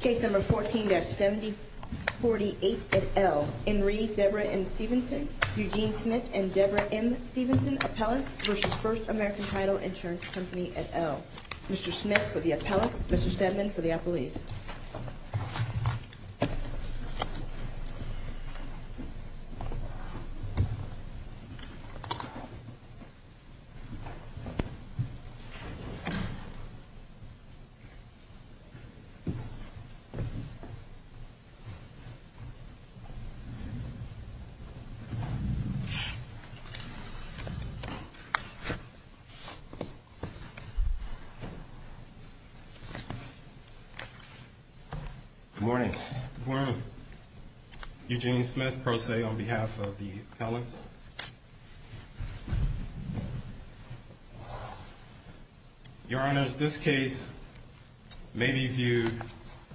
Case number 14-7048 at L. Enri Debra M. Stevenson, Eugene Smith and Debra M. Stevenson Appellants versus First American Title Insurance Company at L. Mr. Smith for the appellants, Mr. Steadman for the appellees. Good morning. Good morning. Eugene Smith, pro se on behalf of the appellants. Your honors, this case may be viewed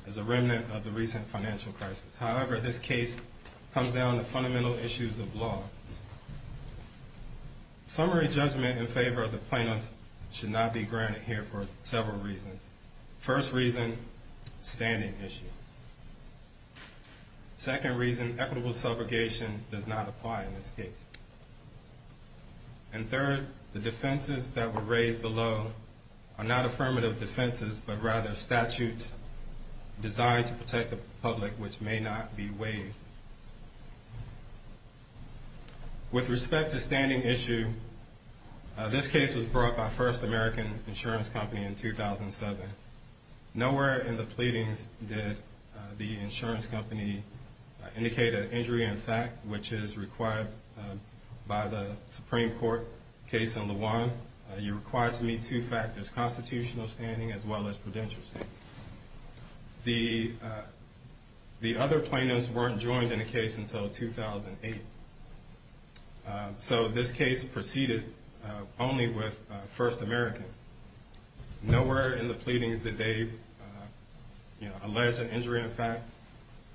as a remnant of the recent financial crisis. However, this case comes down to fundamental issues of law. Summary judgment in favor of the plaintiffs should not be granted here for several reasons. First reason, standing issues. Second reason, equitable subrogation does not apply in this case. And third, the defenses that were raised below are not affirmative defenses, but rather statutes designed to protect the public, which may not be waived. With respect to standing issue, this case was brought by First American Insurance Company in 2007. Nowhere in the pleadings did the insurance company indicate an injury in fact, which is required by the Supreme Court case in Lujan. You're required to meet two factors, constitutional standing as well as prudential standing. The other plaintiffs weren't joined in the case until 2008. So this case proceeded only with First American. Nowhere in the pleadings did they allege an injury in fact.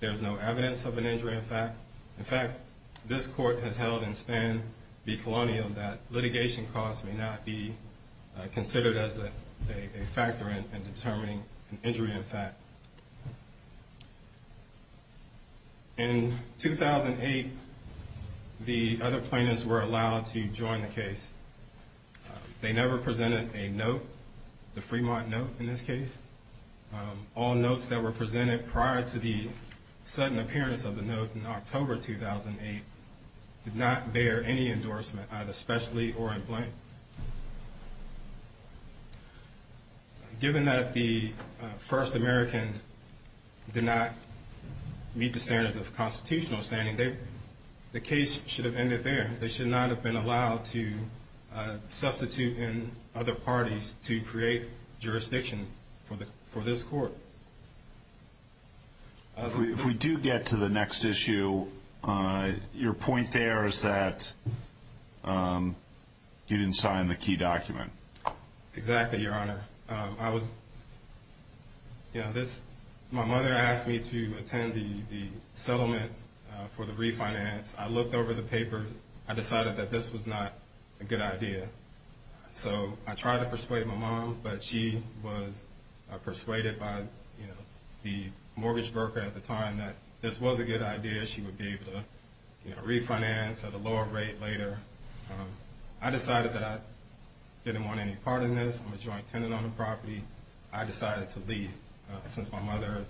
There's no evidence of an injury in fact. In fact, this court has held in Span v. Colonial that litigation costs may not be considered as a factor in determining an injury in fact. In 2008, the other plaintiffs were allowed to join the case. They never presented a note, the Fremont note in this case. All notes that were presented prior to the sudden appearance of the note in October 2008 did not bear any endorsement, either specially or in blank. Given that the First American did not meet the standards of constitutional standing, the case should have ended there. They should not have been allowed to substitute in other parties to create jurisdiction for this court. If we do get to the next issue, your point there is that you didn't sign the key document. Exactly, Your Honor. My mother asked me to attend the settlement for the refinance. I looked over the papers. I decided that this was not a good idea. So I tried to persuade my mom, but she was persuaded by the mortgage broker at the time that this was a good idea. She would be able to refinance at a lower rate later. I decided that I didn't want any part in this. I'm a joint tenant on the property. I decided to leave since my mother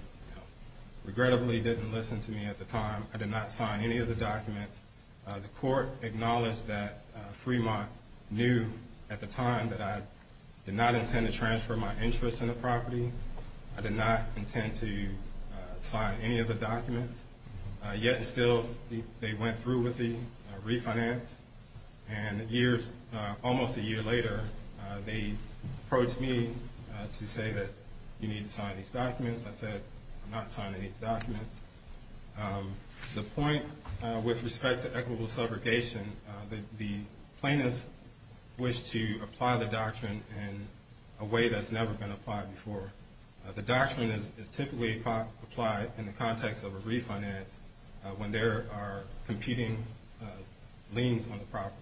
regrettably didn't listen to me at the time. I did not sign any of the documents. The court acknowledged that Fremont knew at the time that I did not intend to transfer my interest in the property. I did not intend to sign any of the documents, yet still they went through with the refinance. And years, almost a year later, they approached me to say that you need to sign these documents. I said, I'm not signing these documents. The point with respect to equitable subrogation, the plaintiffs wish to apply the doctrine in a way that's never been applied before. The doctrine is typically applied in the context of a refinance when there are competing liens on the property.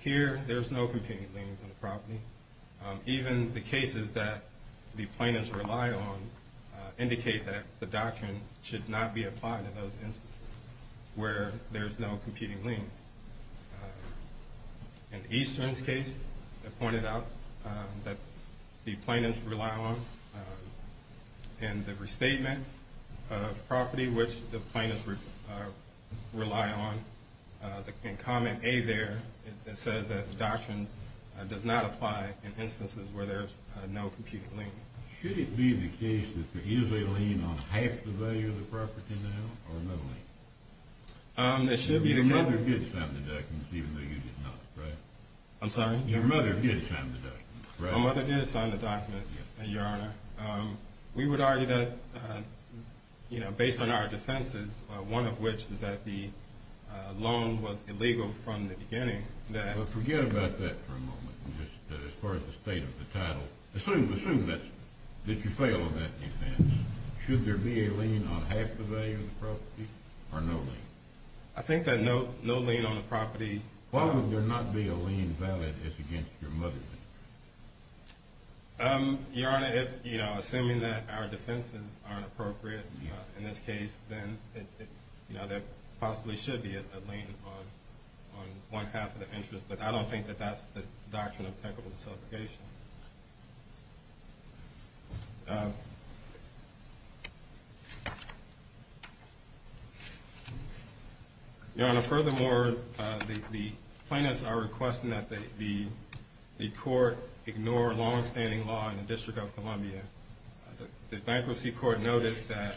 Here, there's no competing liens on the property. Even the cases that the plaintiffs rely on indicate that the doctrine should not be applied in those instances where there's no competing liens. In Eastern's case, they pointed out that the plaintiffs rely on the restatement of the property, which the plaintiffs rely on. In comment A there, it says that the doctrine does not apply in instances where there's no competing liens. Should it be the case that they're usually leaning on half the value of the property now, or none at all? It should be the case. Your mother did sign the documents, even though you did not, right? I'm sorry? Your mother did sign the documents, right? My mother did sign the documents, Your Honor. We would argue that, you know, based on our defenses, one of which is that the loan was illegal from the beginning. Forget about that for a moment, as far as the state of the title. Assume that you fail on that defense. Should there be a lien on half the value of the property, or no lien? I think that no lien on the property. Why would there not be a lien valid as against your mother's interest? Your Honor, if, you know, assuming that our defenses aren't appropriate in this case, then, you know, there possibly should be a lien on one half of the interest. But I don't think that that's the doctrine of equitable disobligation. Your Honor, furthermore, the plaintiffs are requesting that the court ignore longstanding law in the District of Columbia. The Bankruptcy Court noted that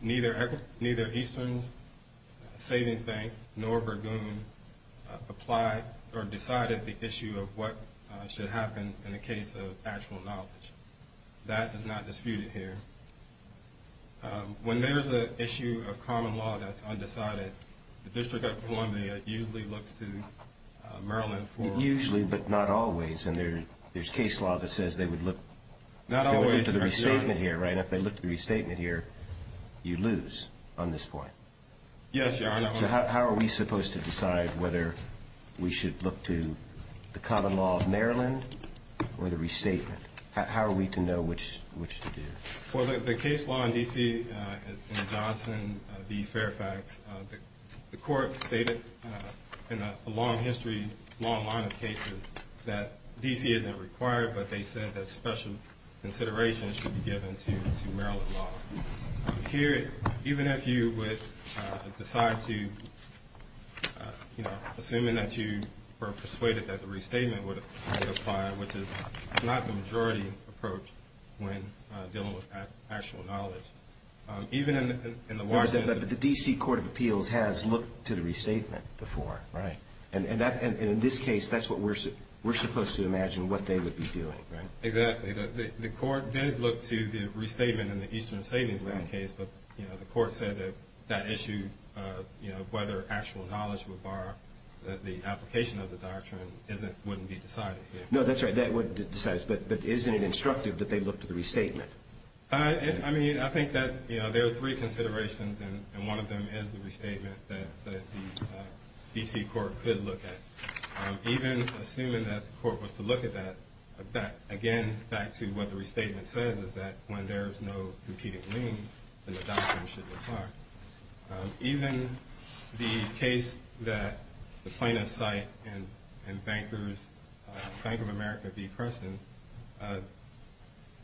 neither Eastern Savings Bank nor Burgoon applied or decided the issue of what should happen in the District of Columbia. In the case of actual knowledge, that is not disputed here. When there is an issue of common law that's undecided, the District of Columbia usually looks to Maryland for it. Usually, but not always, and there's case law that says they would look to the restatement here, right? If they look to the restatement here, you lose on this point. Yes, Your Honor. So how are we supposed to decide whether we should look to the common law of Maryland or the restatement? How are we to know which to do? Well, the case law in D.C. in Johnson v. Fairfax, the court stated in a long history, long line of cases, that D.C. isn't required, but they said that special consideration should be given to Maryland law. Here, even if you would decide to, you know, assuming that you were persuaded that the restatement would apply, which is not the majority approach when dealing with actual knowledge, even in the... But the D.C. Court of Appeals has looked to the restatement before. Right. And in this case, that's what we're supposed to imagine what they would be doing, right? Exactly. The court did look to the restatement in the Eastern Savings Bank case, but, you know, the court said that that issue, you know, whether actual knowledge would bar the application of the doctrine, wouldn't be decided here. No, that's right. That wouldn't be decided. But isn't it instructive that they look to the restatement? I mean, I think that, you know, there are three considerations, and one of them is the restatement that the D.C. Court could look at. Even assuming that the court was to look at that, again, back to what the restatement says, is that when there is no competing lien, then the doctrine should apply. Even the case that the plaintiffs cite in Bank of America v. Preston,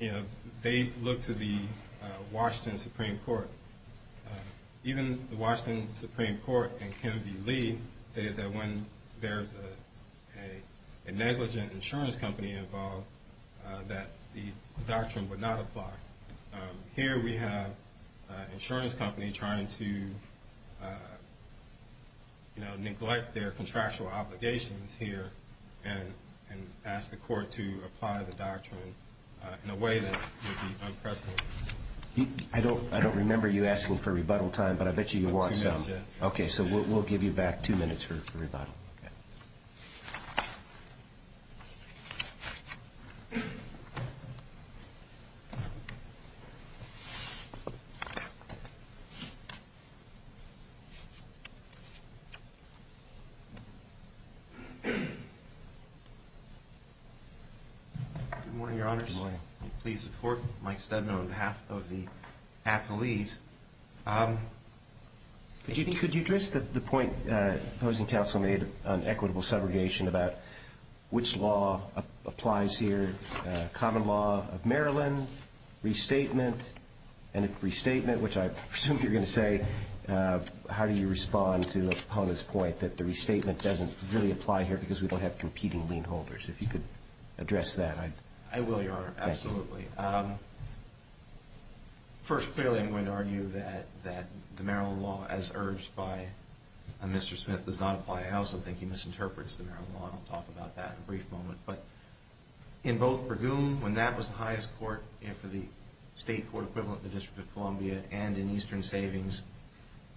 you know, they look to the Washington Supreme Court. Even the Washington Supreme Court in Ken V. Lee stated that when there's a negligent insurance company involved, that the doctrine would not apply. Here we have an insurance company trying to, you know, neglect their contractual obligations here and ask the court to apply the doctrine in a way that would be unprecedented. I don't remember you asking for rebuttal time, but I bet you you want some. Two minutes, yes. Okay, so we'll give you back two minutes for rebuttal. Good morning, Your Honors. Good morning. Please support Mike Steadman on behalf of the appelees. Could you address the point opposing counsel made on equitable subrogation about which law applies here, common law of Maryland, restatement, and if restatement, which I presume you're going to say, how do you respond to Epona's point that the restatement doesn't really apply here because we don't have competing lien holders? If you could address that. I will, Your Honor, absolutely. First, clearly I'm going to argue that the Maryland law, as urged by Mr. Smith, does not apply. I also think he misinterprets the Maryland law, and I'll talk about that in a brief moment. But in both Bergoon, when that was the highest court for the state court equivalent in the District of Columbia and in Eastern Savings,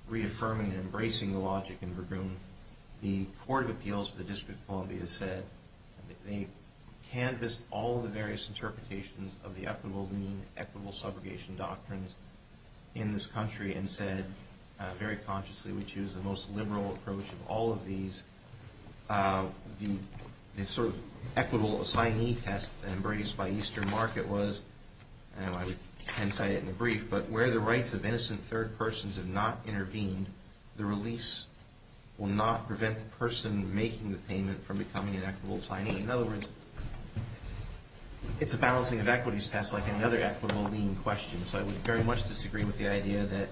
reaffirming and embracing the logic in Bergoon, the Court of Appeals for the District of Columbia said they canvassed all the various interpretations of the equitable lien, equitable subrogation doctrines in this country and said very consciously we choose the most liberal approach of all of these. The sort of equitable assignee test embraced by Eastern Market was, and I can cite it in a brief, but where the rights of innocent third persons have not intervened, the release will not prevent the person making the payment from becoming an equitable assignee. In other words, it's a balancing of equities test like any other equitable lien question. So I would very much disagree with the idea that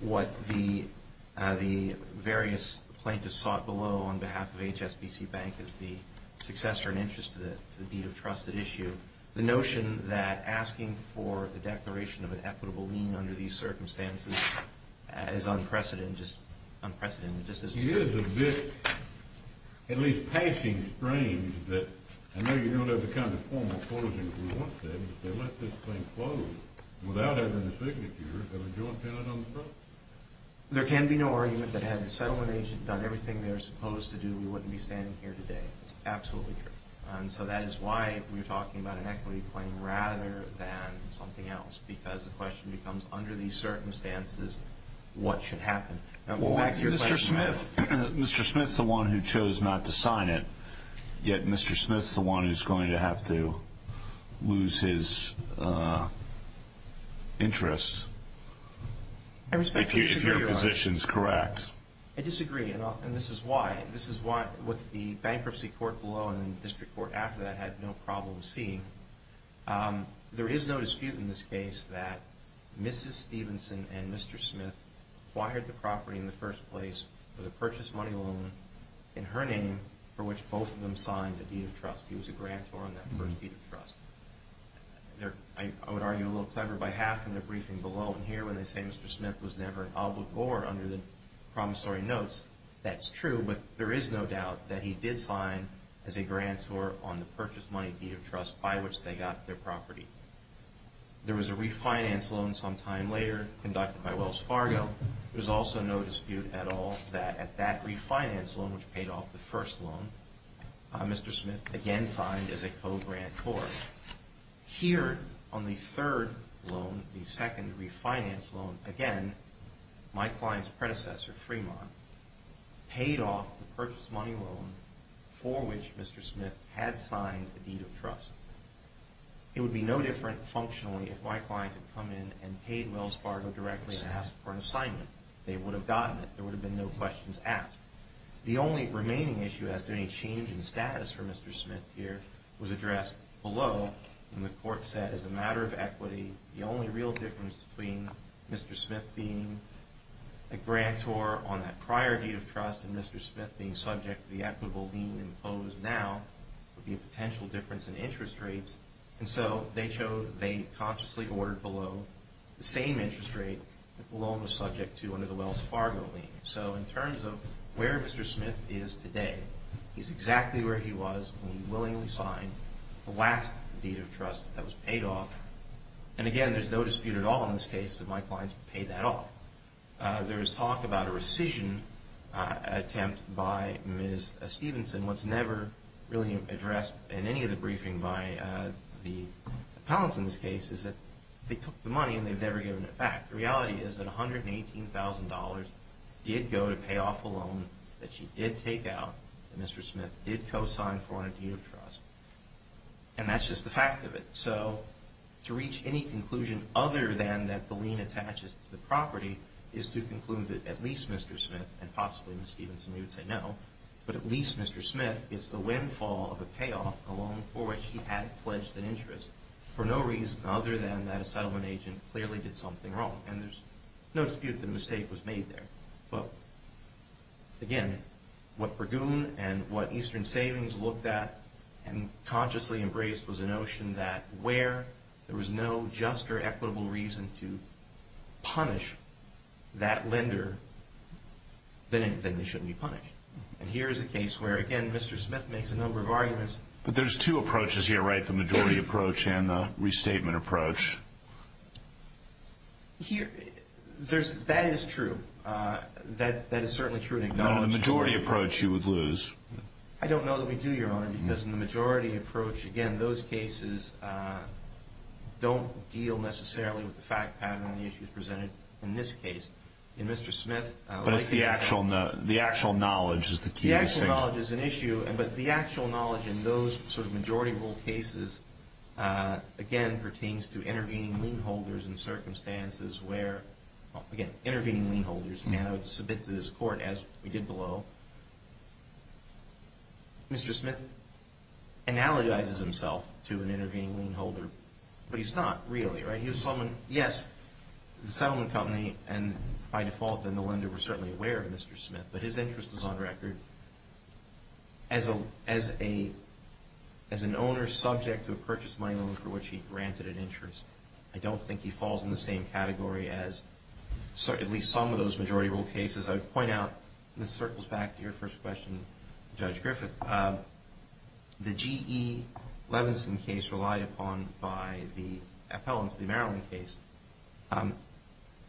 what the various plaintiffs sought below on behalf of HSBC Bank is the successor and interest to the deed of trust at issue. The notion that asking for the declaration of an equitable lien under these circumstances is unprecedented, just unprecedented. It is a bit, at least passing strange, that I know you don't have the kind of formal closing that we want today, but they let this thing close without having the signature of a joint tenant on the property. There can be no argument that had the settlement agent done everything they were supposed to do, we wouldn't be standing here today. It's absolutely true. And so that is why we're talking about an equity claim rather than something else, because the question becomes, under these circumstances, what should happen? Mr. Smith's the one who chose not to sign it, yet Mr. Smith's the one who's going to have to lose his interest if your position's correct. I disagree, and this is why. What the bankruptcy court below and the district court after that had no problem seeing, there is no dispute in this case that Mrs. Stevenson and Mr. Smith acquired the property in the first place with a purchase money loan in her name for which both of them signed a deed of trust. He was a grantor on that first deed of trust. I would argue a little clever by half in the briefing below, and here when they say Mr. Smith was never an obligor under the promissory notes, that's true, but there is no doubt that he did sign as a grantor on the purchase money deed of trust by which they got their property. There was a refinance loan some time later conducted by Wells Fargo. There's also no dispute at all that at that refinance loan, which paid off the first loan, Mr. Smith again signed as a co-grantor. Here on the third loan, the second refinance loan, again, my client's predecessor, Fremont, paid off the purchase money loan for which Mr. Smith had signed a deed of trust. It would be no different functionally if my client had come in and paid Wells Fargo directly to ask for an assignment. They would have gotten it. There would have been no questions asked. The only remaining issue as to any change in status for Mr. Smith here was addressed below, and the court said as a matter of equity, the only real difference between Mr. Smith being a grantor on that prior deed of trust and Mr. Smith being subject to the equitable lien imposed now would be a potential difference in interest rates, and so they consciously ordered below the same interest rate that the loan was subject to under the Wells Fargo lien. So in terms of where Mr. Smith is today, he's exactly where he was when he willingly signed the last deed of trust that was paid off, and again, there's no dispute at all in this case that my client's paid that off. There was talk about a rescission attempt by Ms. Stevenson. What's never really addressed in any of the briefing by the appellants in this case is that they took the money and they've never given it back. The reality is that $118,000 did go to pay off a loan that she did take out that Mr. Smith did co-sign for on a deed of trust, and that's just the fact of it. So to reach any conclusion other than that the lien attaches to the property is to conclude that at least Mr. Smith and possibly Ms. Stevenson would say no, but at least Mr. Smith gets the windfall of a payoff, a loan for which he had pledged an interest for no reason other than that a settlement agent clearly did something wrong, and there's no dispute that a mistake was made there. But again, what Burgoon and what Eastern Savings looked at and consciously embraced was a notion that where there was no just or equitable reason to punish that lender, then it shouldn't be punished. And here is a case where, again, Mr. Smith makes a number of arguments. But there's two approaches here, right, the majority approach and the restatement approach. That is true. That is certainly true and acknowledged. No, no, the majority approach you would lose. I don't know that we do, Your Honor, because in the majority approach, again, those cases don't deal necessarily with the fact pattern on the issues presented in this case. But the actual knowledge is the key distinction. The actual knowledge is an issue, but the actual knowledge in those sort of majority rule cases, again, pertains to intervening lien holders in circumstances where, again, intervening lien holders, and I would submit to this Court, as we did below, Mr. Smith analogizes himself to an intervening lien holder, but he's not really, right? Thank you, Solomon. Yes, the settlement company and, by default, the lender were certainly aware of Mr. Smith, but his interest was on record. As an owner subject to a purchase money loan for which he granted an interest, I don't think he falls in the same category as at least some of those majority rule cases. I would point out, and this circles back to your first question, Judge Griffith, the G.E. Levinson case relied upon by the appellants, the Maryland case,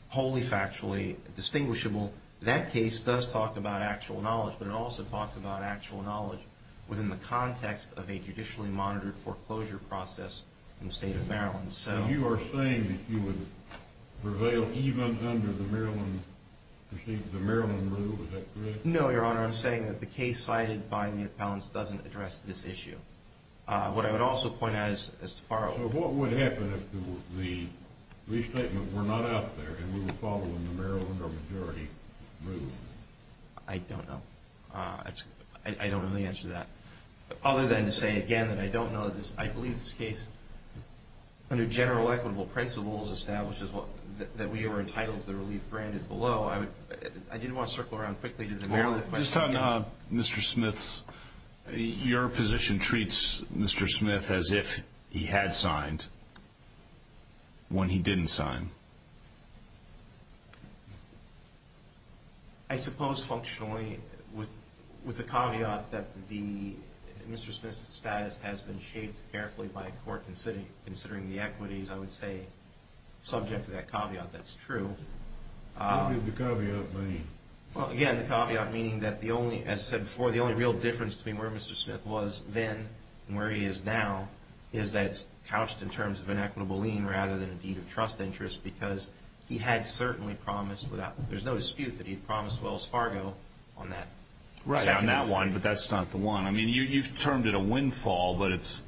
wholly factually distinguishable. That case does talk about actual knowledge, but it also talks about actual knowledge within the context of a judicially monitored foreclosure process in the state of Maryland. So you are saying that you would prevail even under the Maryland rule, is that correct? No, Your Honor. I'm saying that the case cited by the appellants doesn't address this issue. What I would also point out is, as to follow-up. So what would happen if the restatement were not out there and we were following the Maryland or majority rule? I don't know. I don't know the answer to that. Other than to say, again, that I don't know that this, I believe this case, under general equitable principles establishes that we are entitled to the relief branded below, I didn't want to circle around quickly to the Maryland question. Just on Mr. Smith's, your position treats Mr. Smith as if he had signed when he didn't sign. I suppose functionally with the caveat that Mr. Smith's status has been shaped carefully by court considering the equities, I would say subject to that caveat, that's true. What did the caveat mean? Well, again, the caveat meaning that the only, as I said before, the only real difference between where Mr. Smith was then and where he is now is that it's couched in terms of an equitable lien rather than a deed of trust interest because he had certainly promised without, there's no dispute that he promised Wells Fargo on that. Right, on that one, but that's not the one. I mean, you've termed it a windfall, but it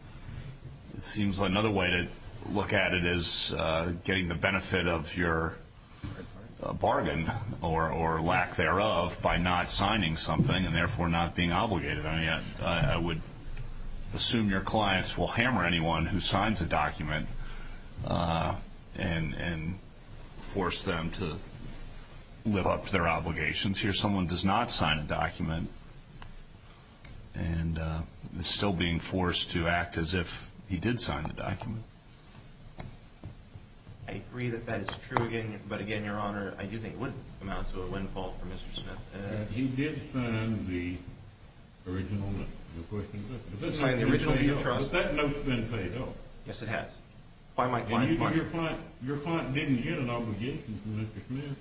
seems like another way to look at it is getting the benefit of your bargain or lack thereof by not signing something and therefore not being obligated on it. I would assume your clients will hammer anyone who signs a document and force them to live up to their obligations. Since here someone does not sign a document and is still being forced to act as if he did sign the document. I agree that that is true, but again, Your Honor, I do think it would amount to a windfall for Mr. Smith. He did sign the original note. He signed the original deed of trust. But that note's been paid off. Yes, it has. By my client's bargain. Your client didn't get an obligation from Mr. Smith.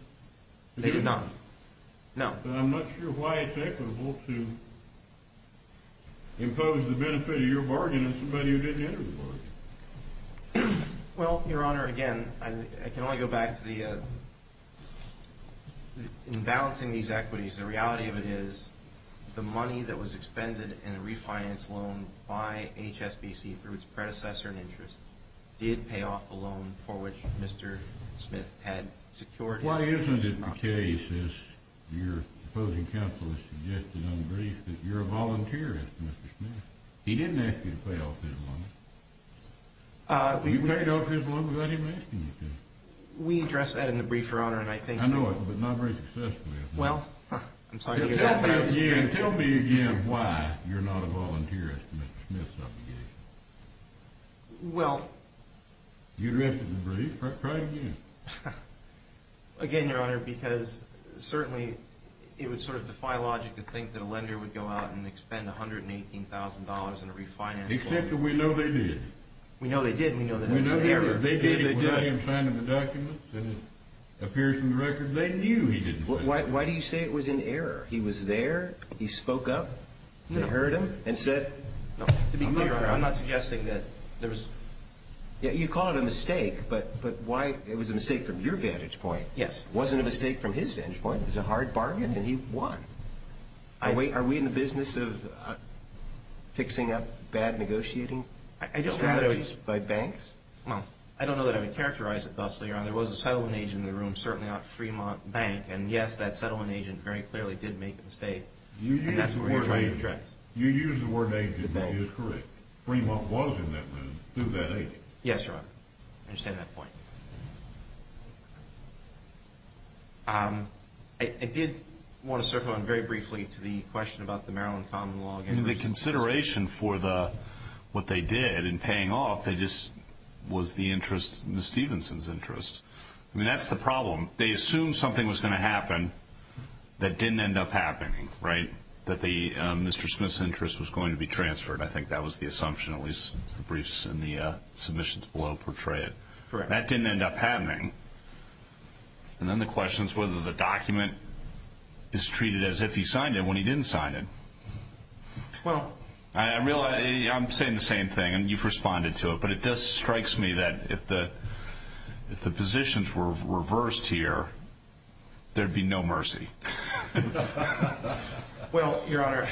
They did not. No. But I'm not sure why it's equitable to impose the benefit of your bargain on somebody who didn't enter the bargain. Well, Your Honor, again, I can only go back to the... In balancing these equities, the reality of it is the money that was expended in a refinance loan by HSBC through its predecessor in interest did pay off the loan for which Mr. Smith had secured his... Why isn't it the case, as your opposing counsel has suggested on the brief, that you're a volunteer as to Mr. Smith? He didn't ask you to pay off his loan. You paid off his loan without him asking you to. We addressed that in the brief, Your Honor, and I think... I know it, but not very successfully, I think. Well, I'm sorry to hear that. Tell me again why you're not a volunteer as to Mr. Smith's obligation. Well... You addressed it in the brief. Try again. Again, Your Honor, because certainly it would sort of defy logic to think that a lender would go out and expend $118,000 in a refinance loan. Except that we know they did. We know they did, and we know that it was an error. They did it without him signing the document, and it appears from the record they knew he did it. Why do you say it was an error? He was there, he spoke up, they heard him, and said... To be clear, I'm not suggesting that there was... You call it a mistake, but why it was a mistake from your vantage point wasn't a mistake from his vantage point. It was a hard bargain, and he won. Are we in the business of fixing up bad negotiating strategies by banks? Well, I don't know that I would characterize it thusly, Your Honor. There was a settlement agent in the room, certainly not Fremont Bank, and yes, that settlement agent very clearly did make a mistake. You used the word agent. You used the word agent, and that is correct. But Fremont was in that room through that agent. Yes, Your Honor. I understand that point. I did want to circle on very briefly to the question about the Maryland Common Law. The consideration for what they did in paying off was the interest, Ms. Stevenson's interest. I mean, that's the problem. They assumed something was going to happen that didn't end up happening, right? That the Mr. Smith's interest was going to be transferred. I think that was the assumption, at least the briefs and the submissions below portray it. That didn't end up happening. And then the question is whether the document is treated as if he signed it when he didn't sign it. I'm saying the same thing, and you've responded to it, but it just strikes me that if the positions were reversed here, there would be no mercy. Well, Your Honor,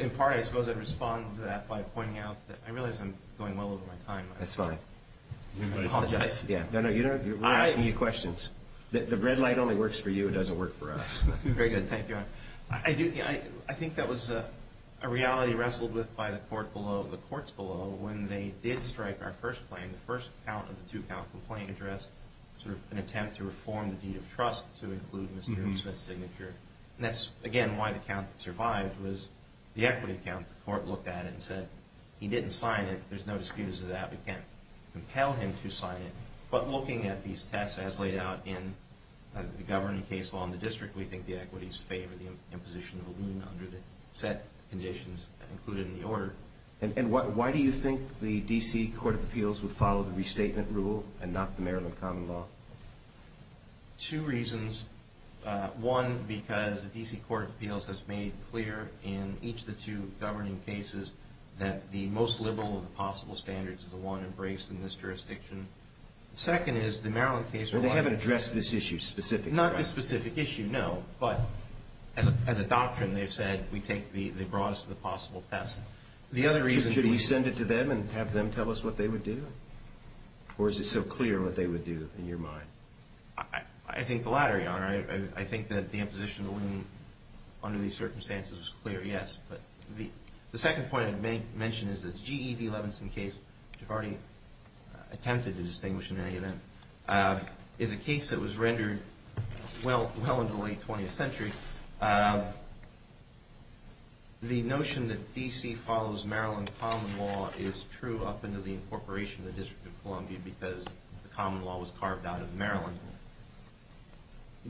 in part I suppose I'd respond to that by pointing out that I realize I'm going well over my time. That's fine. I apologize. No, no, we're asking you questions. The red light only works for you. It doesn't work for us. Very good. Thank you, Your Honor. I think that was a reality wrestled with by the courts below when they did strike our first claim, the first count of the two-count complaint address, sort of an attempt to reform the deed of trust to include Mr. Smith's signature. And that's, again, why the count survived was the equity count. The court looked at it and said he didn't sign it. There's no excuse to that. We can't compel him to sign it. But looking at these tests as laid out in the governing case law in the district, we think the equities favor the imposition of a lien under the set conditions included in the order. And why do you think the D.C. Court of Appeals would follow the restatement rule and not the Maryland common law? Two reasons. One, because the D.C. Court of Appeals has made clear in each of the two governing cases that the most liberal of the possible standards is the one embraced in this jurisdiction. The second is the Maryland case law. Well, they haven't addressed this issue specifically. Not this specific issue, no. But as a doctrine, they've said they brought us to the possible test. Should we send it to them and have them tell us what they would do? Or is it so clear what they would do in your mind? I think the latter, Your Honor. I think that the imposition of a lien under these circumstances was clear, yes. But the second point I'd mention is that the G.E.B. Levinson case, which I've already attempted to distinguish in any event, is a case that was rendered well into the late 20th century. The notion that D.C. follows Maryland common law is true up until the incorporation of the District of Columbia because the common law was carved out of Maryland.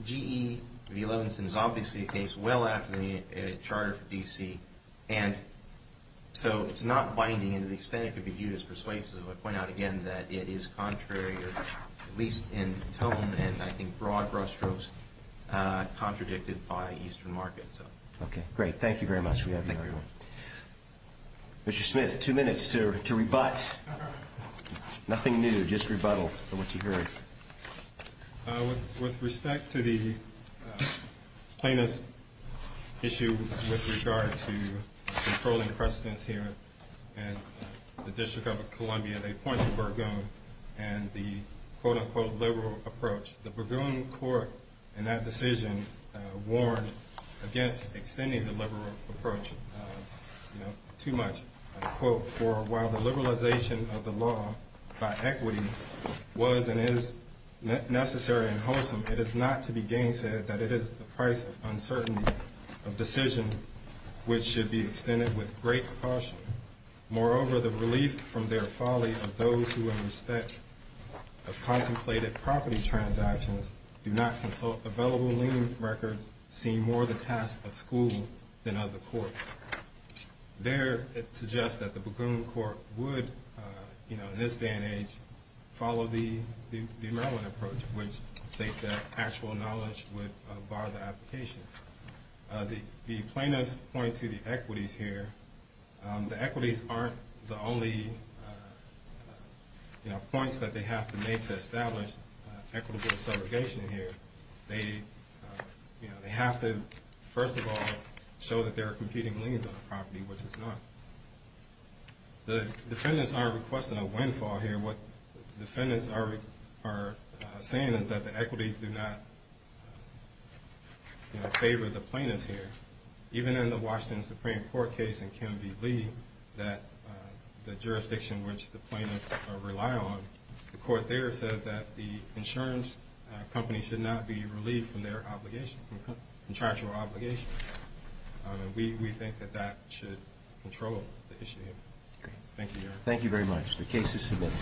G.E.B. Levinson is obviously a case well after the charter for D.C. And so it's not binding in the extent it could be viewed as persuasive. I point out again that it is contrary, at least in tone and, I think, broad brushstrokes, contradicted by Eastern markets. Okay, great. Thank you very much. Thank you, Your Honor. Mr. Smith, two minutes to rebut. Nothing new, just rebuttal for what you heard. With respect to the plaintiff's issue with regard to controlling precedence here in the District of Columbia, they point to Burgoon and the quote-unquote liberal approach. The Burgoon court in that decision warned against extending the liberal approach too much. Quote, for while the liberalization of the law by equity was and is necessary and wholesome, it is not to be gainsaid that it is the price of uncertainty of decision which should be extended with great caution. Moreover, the relief from their folly of those who in respect of contemplated property transactions do not consult available lien records seem more the task of school than of the court. There, it suggests that the Burgoon court would, in this day and age, follow the Maryland approach, which states that actual knowledge would bar the application. The plaintiffs point to the equities here. The equities aren't the only points that they have to make to establish equitable subrogation here. They have to, first of all, show that there are competing liens on the property, which it's not. The defendants aren't requesting a windfall here. What the defendants are saying is that the equities do not favor the plaintiffs here. Even in the Washington Supreme Court case in Ken V. Lee, the jurisdiction which the plaintiffs rely on, the court there said that the insurance company should not be relieved from their obligation, contractual obligation. We think that that should control the issue here. Thank you, Your Honor. Thank you very much. The case is submitted.